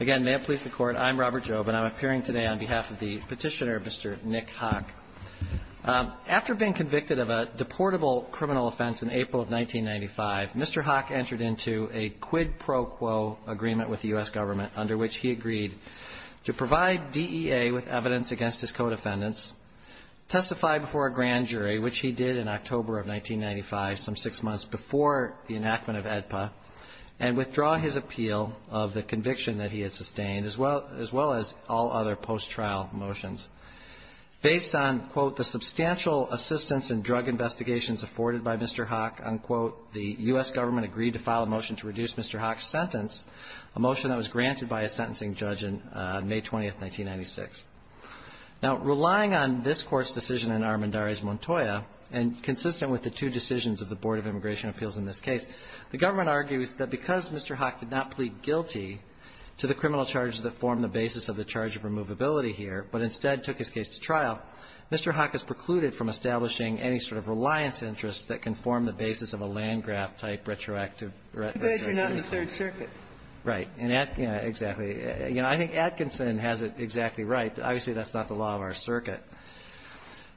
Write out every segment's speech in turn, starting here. Again, may it please the Court, I'm Robert Jobe, and I'm appearing today on behalf of the petitioner, Mr. Nick Haque. After being convicted of a deportable criminal offense in April of 1995, Mr. Haque entered into a quid pro quo agreement with the U.S. government under which he agreed to provide DEA with evidence against his co-defendants, testify before a grand jury, which he did in October of 1995, some six months before the enactment of AEDPA, and withdraw his appeal of the conviction that he had sustained, as well as all other post-trial motions. Based on, quote, the substantial assistance in drug investigations afforded by Mr. Haque, unquote, the U.S. government agreed to file a motion to reduce Mr. Haque's sentence, a motion that was granted by a sentencing judge on May 20, 1996. Now, relying on this Court's decision in Armendariz-Montoya, and consistent with the two decisions of the Board of Immigration Appeals in this case, the government argues that because Mr. Haque did not plead guilty to the criminal charges that form the basis of the charge of removability here, but instead took his case to trial, Mr. Haque is precluded from establishing any sort of reliance interest that can form the basis of a Landgraf-type retroactive retribution. Ginsburg. You guys are not in the Third Circuit. Right. Exactly. You know, I think Atkinson has it exactly right. Obviously, that's not the law of our circuit.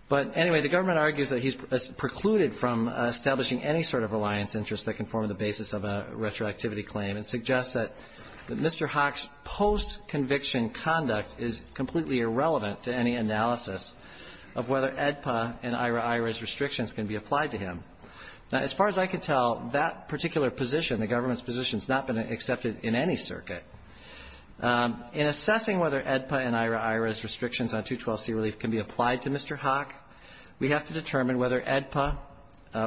But, anyway, the government argues that he's precluded from establishing any sort of reliance interest that can form the basis of a retroactivity claim and suggests that Mr. Haque's post-conviction conduct is completely irrelevant to any analysis of whether AEDPA and IHRA-IHRA's restrictions can be applied to him. Now, as far as I can tell, that particular position, the government's position, has not been accepted in any circuit. In assessing whether AEDPA and IHRA-IHRA's restrictions on 212c relief can be applied to Mr. Haque, we have to determine whether AEDPA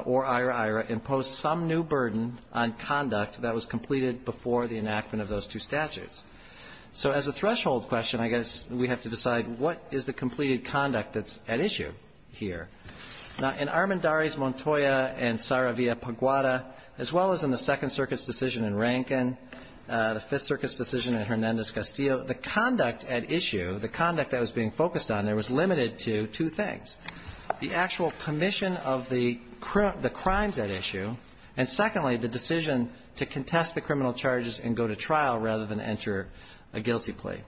or IHRA-IHRA imposed some new burden on conduct that was completed before the enactment of those two statutes. So as a threshold question, I guess we have to decide what is the completed conduct that's at issue here. Now, in Armendariz-Montoya and Saravia-Paguada, as well as in the Second Circuit's decision in Rankin, the Fifth Circuit's decision in Hernandez-Castillo, the conduct at issue, the conduct that was being focused on there was limited to two things, the actual commission of the crimes at issue and, secondly, the decision to contest the criminal charges and go to trial rather than enter a guilty plea.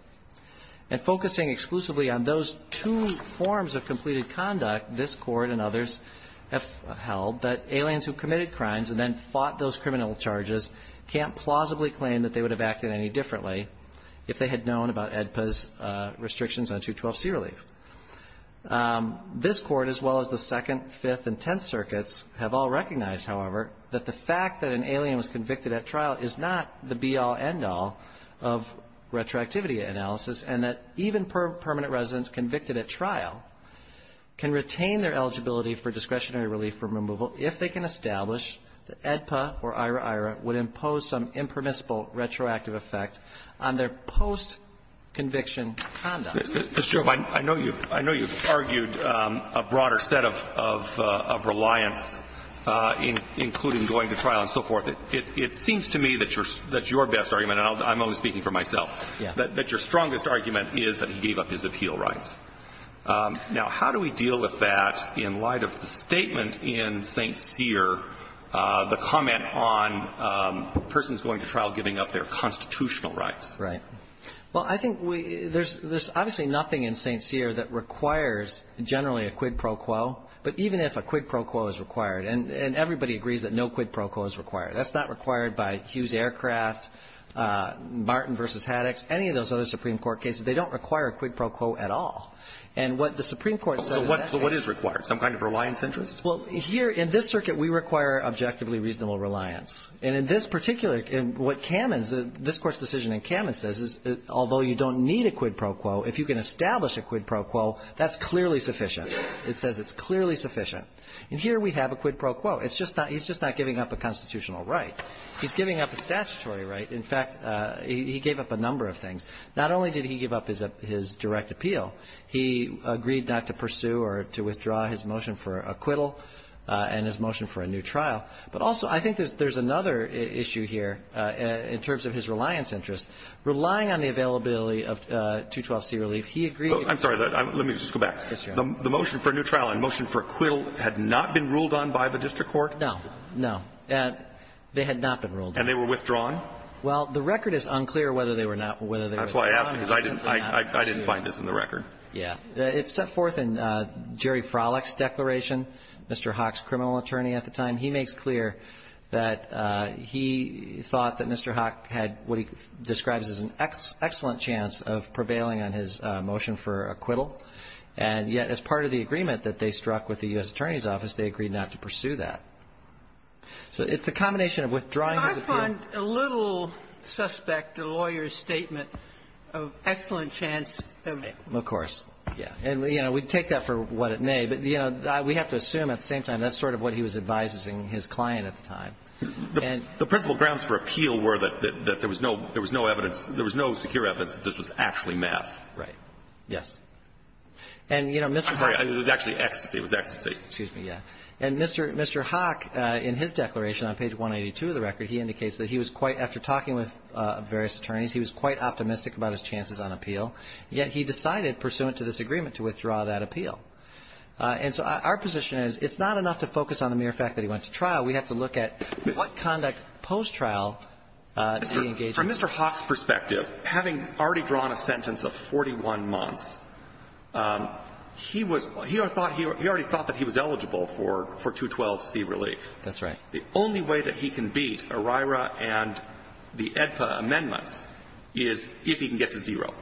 And focusing exclusively on those two forms of completed conduct, this Court and others have held that aliens who committed crimes and then known about AEDPA's restrictions on 212c relief. This Court, as well as the Second, Fifth, and Tenth Circuits have all recognized, however, that the fact that an alien was convicted at trial is not the be-all, end-all of retroactivity analysis and that even permanent residents convicted at trial can retain their eligibility for discretionary relief from removal if they can establish that AEDPA or IHRA-IHRA would impose some restrictions on their post-conviction conduct. Roberts, I know you've argued a broader set of reliance, including going to trial and so forth. It seems to me that your best argument, and I'm only speaking for myself, that your strongest argument is that he gave up his appeal rights. Now, how do we deal with that in light of the statement in St. Cyr, the comment on persons going to trial giving up their constitutional rights? Right. Well, I think there's obviously nothing in St. Cyr that requires generally a quid pro quo, but even if a quid pro quo is required, and everybody agrees that no quid pro quo is required, that's not required by Hughes Aircraft, Martin v. Haddox, any of those other Supreme Court cases. They don't require a quid pro quo at all. And what the Supreme Court said in that case was that it's not required. So what is required? Some kind of reliance interest? Well, here in this circuit, we require objectively reasonable reliance. And in this particular case, what Kamen's, this Court's decision in Kamen says is although you don't need a quid pro quo, if you can establish a quid pro quo, that's clearly sufficient. It says it's clearly sufficient. And here we have a quid pro quo. It's just not he's just not giving up a constitutional right. He's giving up a statutory right. In fact, he gave up a number of things. Not only did he give up his direct appeal, he agreed not to pursue or to withdraw his motion for acquittal and his motion for a new trial. But also, I think there's another issue here in terms of his reliance interest. Relying on the availability of 212c relief, he agreed to go back. I'm sorry. Let me just go back. Yes, Your Honor. The motion for a new trial and motion for acquittal had not been ruled on by the district court? No. No. They had not been ruled on. And they were withdrawn? Well, the record is unclear whether they were not or whether they were withdrawn. That's why I asked, because I didn't find this in the record. Yeah. It's set forth in Jerry Frolick's declaration, Mr. Haack's criminal attorney at the time. He makes clear that he thought that Mr. Haack had what he describes as an excellent chance of prevailing on his motion for acquittal. And yet, as part of the agreement that they struck with the U.S. Attorney's Office, they agreed not to pursue that. So it's the combination of withdrawing his appeal. I find a little suspect the lawyer's statement of excellent chance of it. Of course. Yeah. And, you know, we take that for what it may. But, you know, we have to assume at the same time that's sort of what he was advising his client at the time. The principal grounds for appeal were that there was no evidence, there was no secure evidence that this was actually math. Right. Yes. And, you know, Mr. Haack was actually ecstasy. It was ecstasy. Excuse me, yeah. And Mr. Haack, in his declaration on page 182 of the record, he indicates that he was quite, after talking with various attorneys, he was quite optimistic about his chances on appeal. Yet he decided, pursuant to this agreement, to withdraw that appeal. And so our position is it's not enough to focus on the mere fact that he went to trial. We have to look at what conduct post-trial did he engage in. From Mr. Haack's perspective, having already drawn a sentence of 41 months, he was he already thought that he was eligible for 212C relief. That's right. The only way that he can beat ERIRA and the AEDPA amendments is if he can get to zero.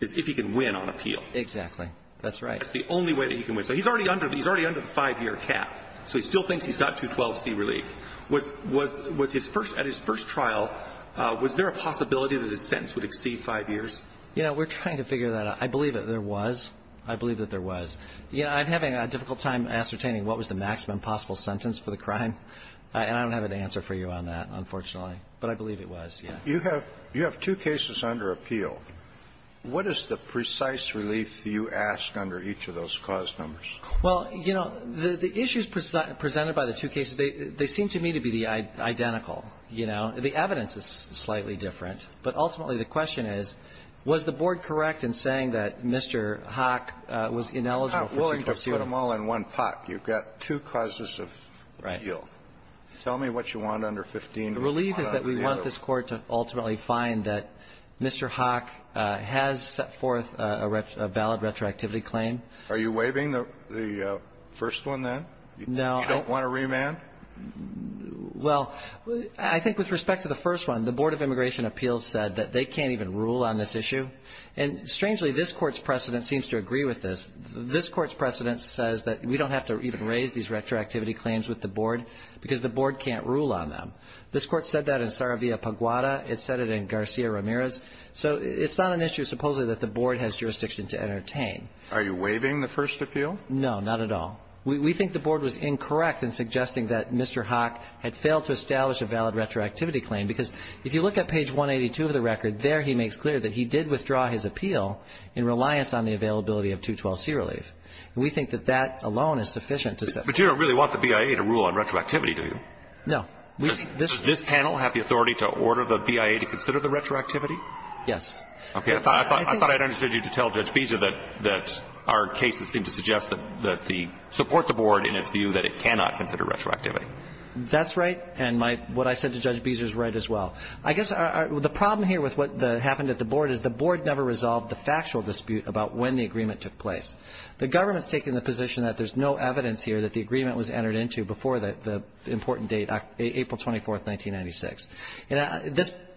Is if he can win on appeal. Exactly. That's right. That's the only way that he can win. So he's already under the five-year cap. So he still thinks he's got 212C relief. Was his first at his first trial, was there a possibility that his sentence would exceed five years? You know, we're trying to figure that out. I believe that there was. I believe that there was. You know, I'm having a difficult time ascertaining what was the maximum possible sentence for the crime. And I don't have an answer for you on that, unfortunately. But I believe it was, yes. You have two cases under appeal. What is the precise relief you ask under each of those cause numbers? Well, you know, the issues presented by the two cases, they seem to me to be identical. You know, the evidence is slightly different. But ultimately, the question is, was the board correct in saying that Mr. Haack was ineligible for 212C relief? I'm not willing to put them all in one pot. You've got two causes of appeal. Right. Tell me what you want under 15. The relief is that we want this Court to ultimately find that Mr. Haack has set forth a valid retroactivity claim. Are you waiving the first one, then? No. You don't want to remand? Well, I think with respect to the first one, the Board of Immigration Appeals said that they can't even rule on this issue. And strangely, this Court's precedent seems to agree with this. This Court's precedent says that we don't have to even raise these retroactivity claims with the board because the board can't rule on them. This Court said that in Saravia-Paguada. It said it in Garcia-Ramirez. So it's not an issue, supposedly, that the board has jurisdiction to entertain. Are you waiving the first appeal? No, not at all. We think the board was incorrect in suggesting that Mr. Haack had failed to establish a valid retroactivity claim, because if you look at page 182 of the record, there he makes clear that he did withdraw his appeal in reliance on the availability of 212C relief. And we think that that alone is sufficient to say. But you don't really want the BIA to rule on retroactivity, do you? No. Does this panel have the authority to order the BIA to consider the retroactivity? Yes. Okay. I thought I'd understood you to tell Judge Beezer that our cases seem to suggest that the support the board in its view that it cannot consider retroactivity. That's right. And what I said to Judge Beezer is right as well. I guess the problem here with what happened at the board is the board never resolved the factual dispute about when the agreement took place. The government's taking the position that there's no evidence here that the agreement was entered into before the important date, April 24th, 1996.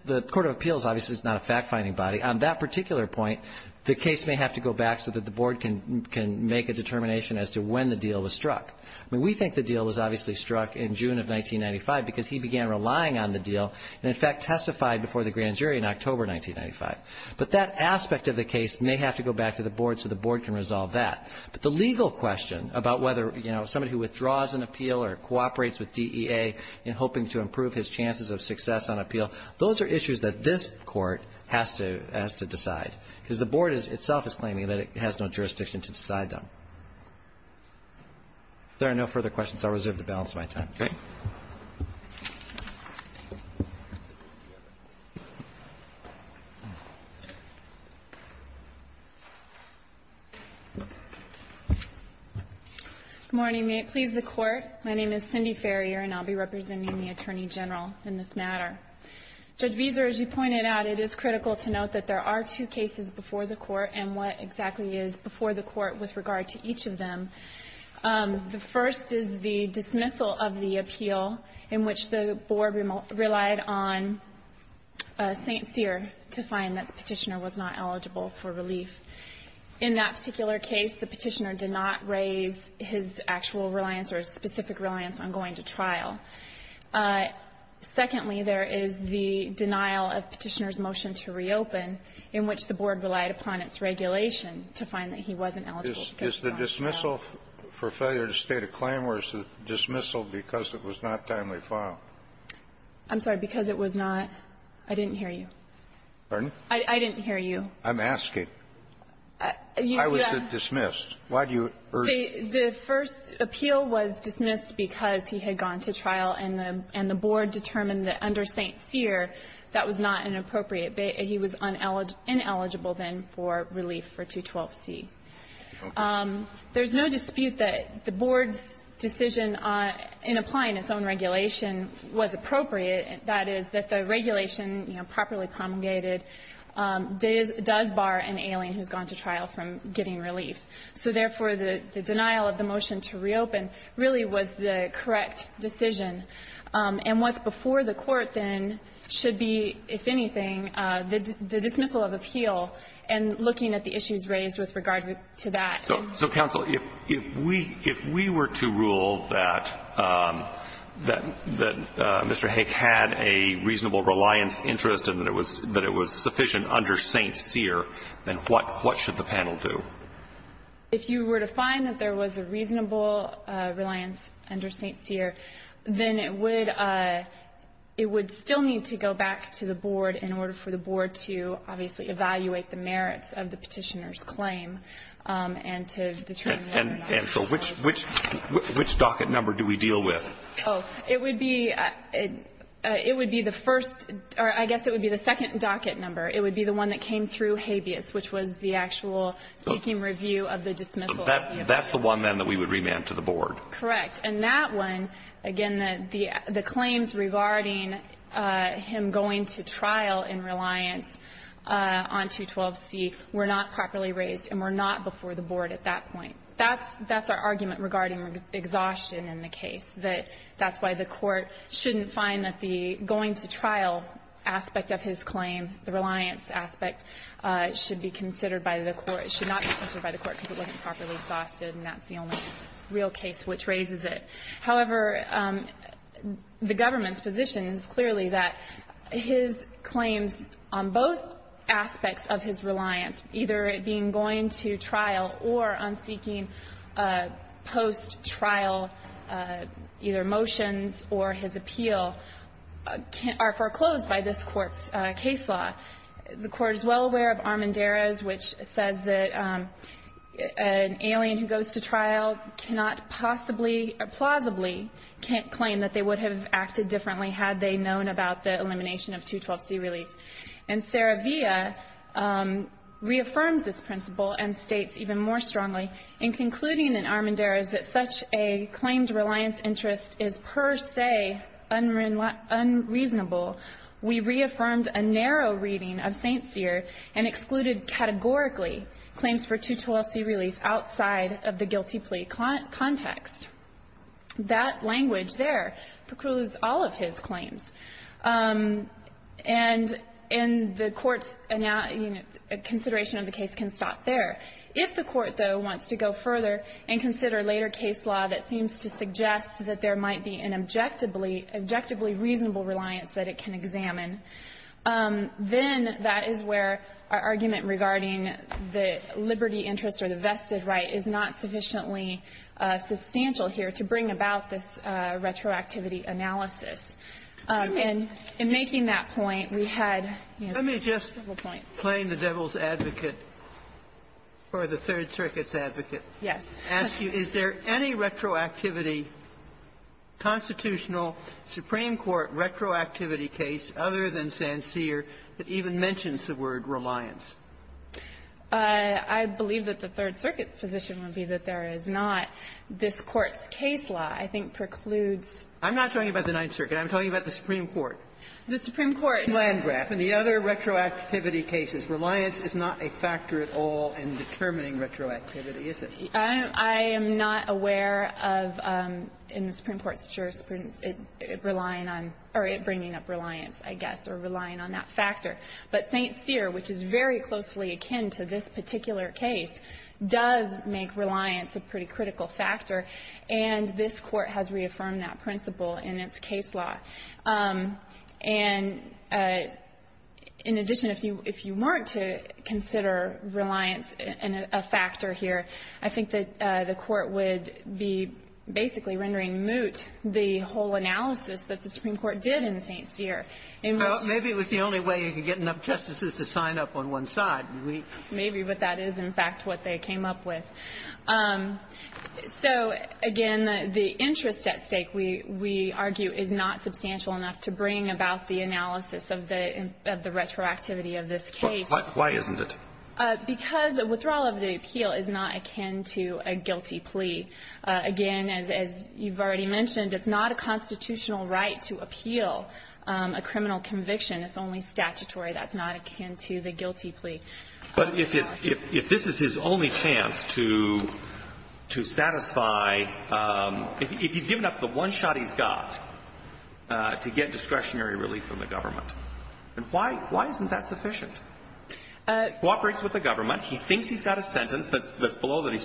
The Court of Appeals obviously is not a fact-finding body. On that particular point, the case may have to go back so that the board can make a determination as to when the deal was struck. I mean, we think the deal was obviously struck in June of 1995 because he began relying on the deal and, in fact, testified before the grand jury in October 1995. But that aspect of the case may have to go back to the board so the board can resolve that. But the legal question about whether, you know, somebody who withdraws an appeal or cooperates with DEA in hoping to improve his chances of success on appeal, those are issues that this Court has to decide, because the board itself is claiming that it has no jurisdiction to decide them. If there are no further questions, I'll reserve the balance of my time. Thank you. Good morning. May it please the Court. My name is Cindy Ferrier, and I'll be representing the Attorney General in this matter. Judge Viser, as you pointed out, it is critical to note that there are two cases before the Court, and what exactly is before the Court with regard to each of them. The first is the dismissal of the appeal in which the board relied on St. Cyr to find that the Petitioner was not eligible for relief. In that particular case, the Petitioner did not raise his actual reliance or his specific reliance on going to trial. Secondly, there is the denial of Petitioner's motion to reopen in which the board relied upon its regulation to find that he wasn't eligible. Is the dismissal for failure to state a claim, or is the dismissal because it was not timely filed? I'm sorry. Because it was not. I didn't hear you. Pardon? I didn't hear you. I'm asking. I was dismissed. Why do you urge? The first appeal was dismissed because he had gone to trial, and the board determined that under St. Cyr, that was not inappropriate. He was ineligible, then, for relief for 212C. There is no dispute that the board's decision in applying its own regulation was appropriate, that is, that the regulation, you know, properly promulgated does bar an alien who's gone to trial from getting relief. So, therefore, the denial of the motion to reopen really was the correct decision. And what's before the Court, then, should be, if anything, the dismissal of appeal and looking at the issues raised with regard to that. So, counsel, if we were to rule that Mr. Haig had a reasonable reliance interest and that it was sufficient under St. Cyr, then what should the panel do? If you were to find that there was a reasonable reliance under St. Cyr, then it would still need to go back to the board in order for the board to, obviously, evaluate the merits of the Petitioner's claim and to determine whether or not it was appropriate. And so which docket number do we deal with? Oh, it would be the first or I guess it would be the second docket number. It would be the one that came through habeas, which was the actual seeking review of the dismissal of the appeal. That's the one, then, that we would remand to the board? And that one, again, the claims regarding him going to trial in reliance on 212C were not properly raised and were not before the board at that point. That's our argument regarding exhaustion in the case, that that's why the Court shouldn't find that the going to trial aspect of his claim, the reliance aspect, should be considered by the Court. It should not be considered by the Court because it wasn't properly exhausted and that's the only real case which raises it. However, the government's position is clearly that his claims on both aspects of his reliance, either it being going to trial or on seeking post-trial, either motions or his appeal, are foreclosed by this Court's case law. The Court is well aware of Armendariz, which says that an alien who goes to trial cannot possibly or plausibly claim that they would have acted differently had they known about the elimination of 212C relief. And Saravia reaffirms this principle and states even more strongly in concluding in Armendariz that such a claimed reliance interest is per se unreasonable. We reaffirmed a narrow reading of St. Cyr and excluded categorically claims for 212C relief outside of the guilty plea context. That language there precludes all of his claims. And the Court's consideration of the case can stop there. If the Court, though, wants to go further and consider later case law that seems to suggest that there might be an objectively reasonable reliance that it can examine, then that is where our argument regarding the liberty interest or the vested right is not sufficiently substantial here to bring about this retroactivity analysis. And in making that point, we had several points. Sotomayor, let me just claim the devil's advocate or the Third Circuit's advocate. Yes. I want to ask you, is there any retroactivity, constitutional, Supreme Court retroactivity case other than St. Cyr that even mentions the word reliance? I believe that the Third Circuit's position would be that there is not. This Court's case law, I think, precludes. I'm not talking about the Ninth Circuit. I'm talking about the Supreme Court. The Supreme Court. Landgraf and the other retroactivity cases, reliance is not a factor at all in determining retroactivity, is it? I am not aware of, in the Supreme Court's jurisprudence, it relying on or it bringing up reliance, I guess, or relying on that factor. But St. Cyr, which is very closely akin to this particular case, does make reliance a pretty critical factor, and this Court has reaffirmed that principle in its case law. And in addition, if you weren't to consider reliance a factor here, I think it's I think that the Court would be basically rendering moot the whole analysis that the Supreme Court did in St. Cyr. Maybe it was the only way you could get enough justices to sign up on one side. Maybe, but that is, in fact, what they came up with. So, again, the interest at stake, we argue, is not substantial enough to bring about the analysis of the retroactivity of this case. Why isn't it? Because withdrawal of the appeal is not akin to a guilty plea. Again, as you've already mentioned, it's not a constitutional right to appeal a criminal conviction. It's only statutory. That's not akin to the guilty plea. But if this is his only chance to satisfy, if he's given up the one shot he's got to get discretionary relief from the government, then why isn't that sufficient? He cooperates with the government. He thinks he's got a sentence that's below that he's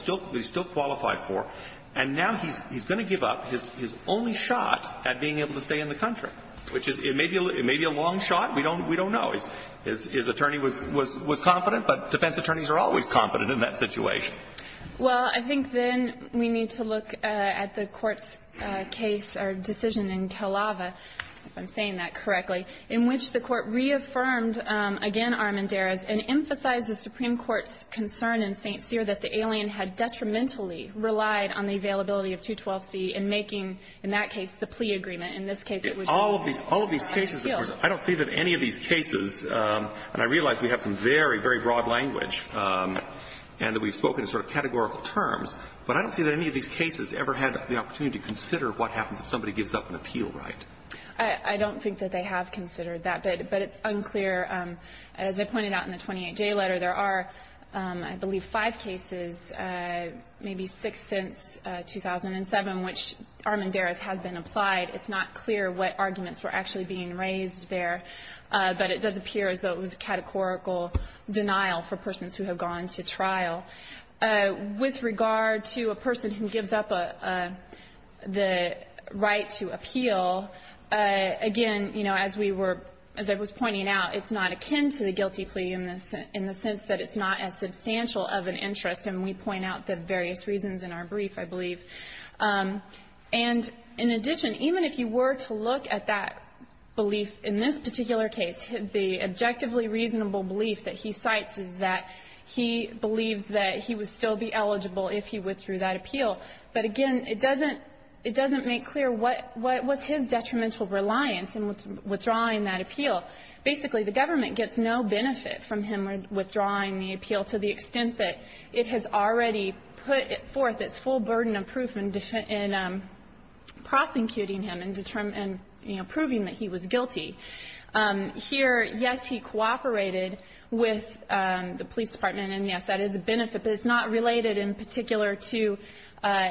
still qualified for. And now he's going to give up his only shot at being able to stay in the country, which is, it may be a long shot. We don't know. His attorney was confident, but defense attorneys are always confident in that situation. Well, I think then we need to look at the Court's case or decision in Kalaava, if I think your Honor, at this point I just kind of want to pause with a comment on abuse of the 刘 amendment. And emphasize the Supreme Court's concern in St. Cyr that the alien had detrimentally relied on the availability of 212 ultra1980. In making, in that case, the plea agreement. In this case, it was the appeal. All of these cases, of course, I don't see that any of these cases, and I realize we have some very, very broad language, and that we've spoken in sort of categorical terms, but I don't see that any of these cases ever had the opportunity to consider what happens if somebody gives up an appeal right. I don't think that they have considered that, but it's unclear. As I pointed out in the 28J letter, there are, I believe, five cases, maybe six since 2007, which Armendariz has been applied. It's not clear what arguments were actually being raised there, but it does appear as though it was a categorical denial for persons who have gone to trial. With regard to a person who gives up a, the right to appeal, again, you know, as we were, as I was pointing out, it's not akin to the guilty plea in the sense that it's not as substantial of an interest, and we point out the various reasons in our brief, I believe. And in addition, even if you were to look at that belief in this particular case, the objectively reasonable belief that he cites is that he believes that he would still be eligible if he withdrew that appeal. But again, it doesn't, it doesn't make clear what, what was his detrimental reliance in withdrawing that appeal. Basically, the government gets no benefit from him withdrawing the appeal to the extent that it's a burden of proof in prosecuting him and proving that he was guilty. Here, yes, he cooperated with the police department, and yes, that is a benefit. But it's not related in particular to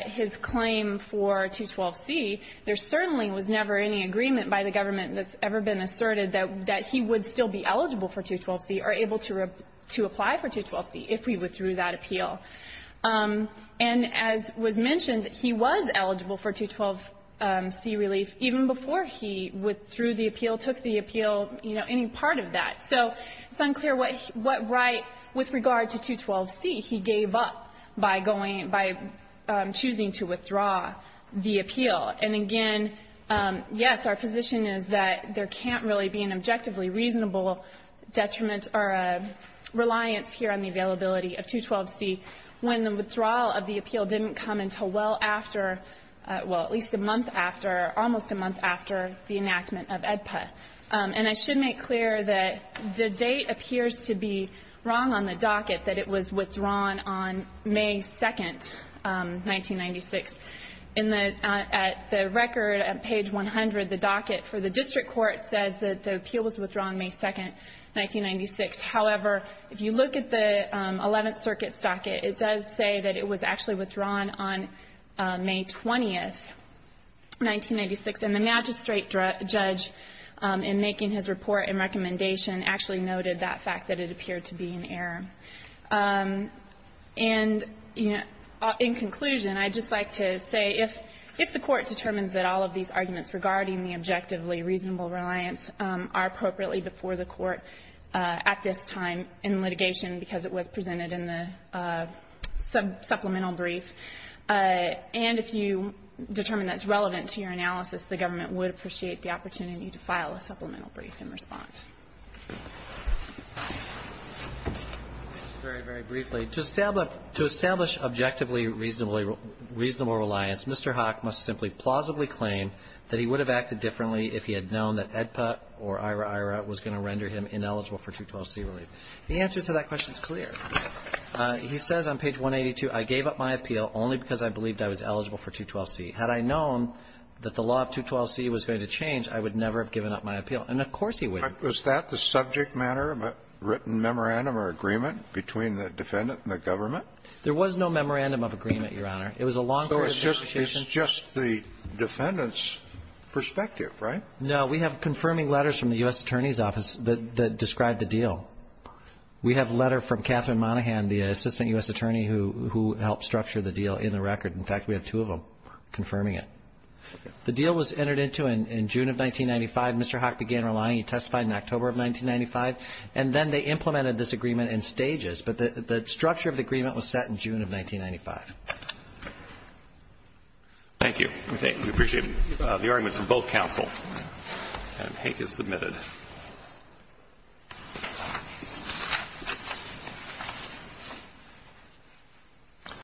his claim for 212C. There certainly was never any agreement by the government that's ever been asserted that he would still be eligible for 212C or able to apply for 212C if he withdrew that appeal. And as was mentioned, he was eligible for 212C relief even before he withdrew the appeal, took the appeal, you know, any part of that. So it's unclear what right, with regard to 212C, he gave up by going, by choosing to withdraw the appeal. And again, yes, our position is that there can't really be an objectively reasonable detriment or a reliance here on the availability of 212C when the withdrawal of the appeal didn't come until well after, well, at least a month after, almost a month after the enactment of AEDPA. And I should make clear that the date appears to be wrong on the docket, that it was withdrawn on May 2nd, 1996. In the record, at page 100, the docket for the district court says that the appeal was withdrawn May 2nd, 1996. However, if you look at the Eleventh Circuit's docket, it does say that it was actually withdrawn on May 20th, 1996. And the magistrate judge, in making his report and recommendation, actually noted that fact, that it appeared to be an error. And in conclusion, I'd just like to say, if the Court determines that all of these are appropriately before the Court at this time in litigation, because it was presented in the supplemental brief, and if you determine that it's relevant to your analysis, the government would appreciate the opportunity to file a supplemental brief in response. Very, very briefly, to establish objectively reasonable reliance, Mr. Hock must simply plausibly claim that he would have acted differently if he had known that AEDPA or IRAIRA was going to render him ineligible for 212C relief. The answer to that question is clear. He says on page 182, I gave up my appeal only because I believed I was eligible for 212C. Had I known that the law of 212C was going to change, I would never have given up my appeal. And of course he wouldn't. Was that the subject matter of a written memorandum or agreement between the defendant and the government? There was no memorandum of agreement, Your Honor. It was a long period of negotiation. It's just the defendant's perspective, right? No. We have confirming letters from the U.S. Attorney's Office that describe the deal. We have a letter from Catherine Monaghan, the assistant U.S. attorney who helped structure the deal in the record. In fact, we have two of them confirming it. The deal was entered into in June of 1995. Mr. Hock began relying. He testified in October of 1995. And then they implemented this agreement in stages, but the structure of the agreement was set in June of 1995. Thank you. We appreciate it. The argument is for both counsel. And Hague is submitted.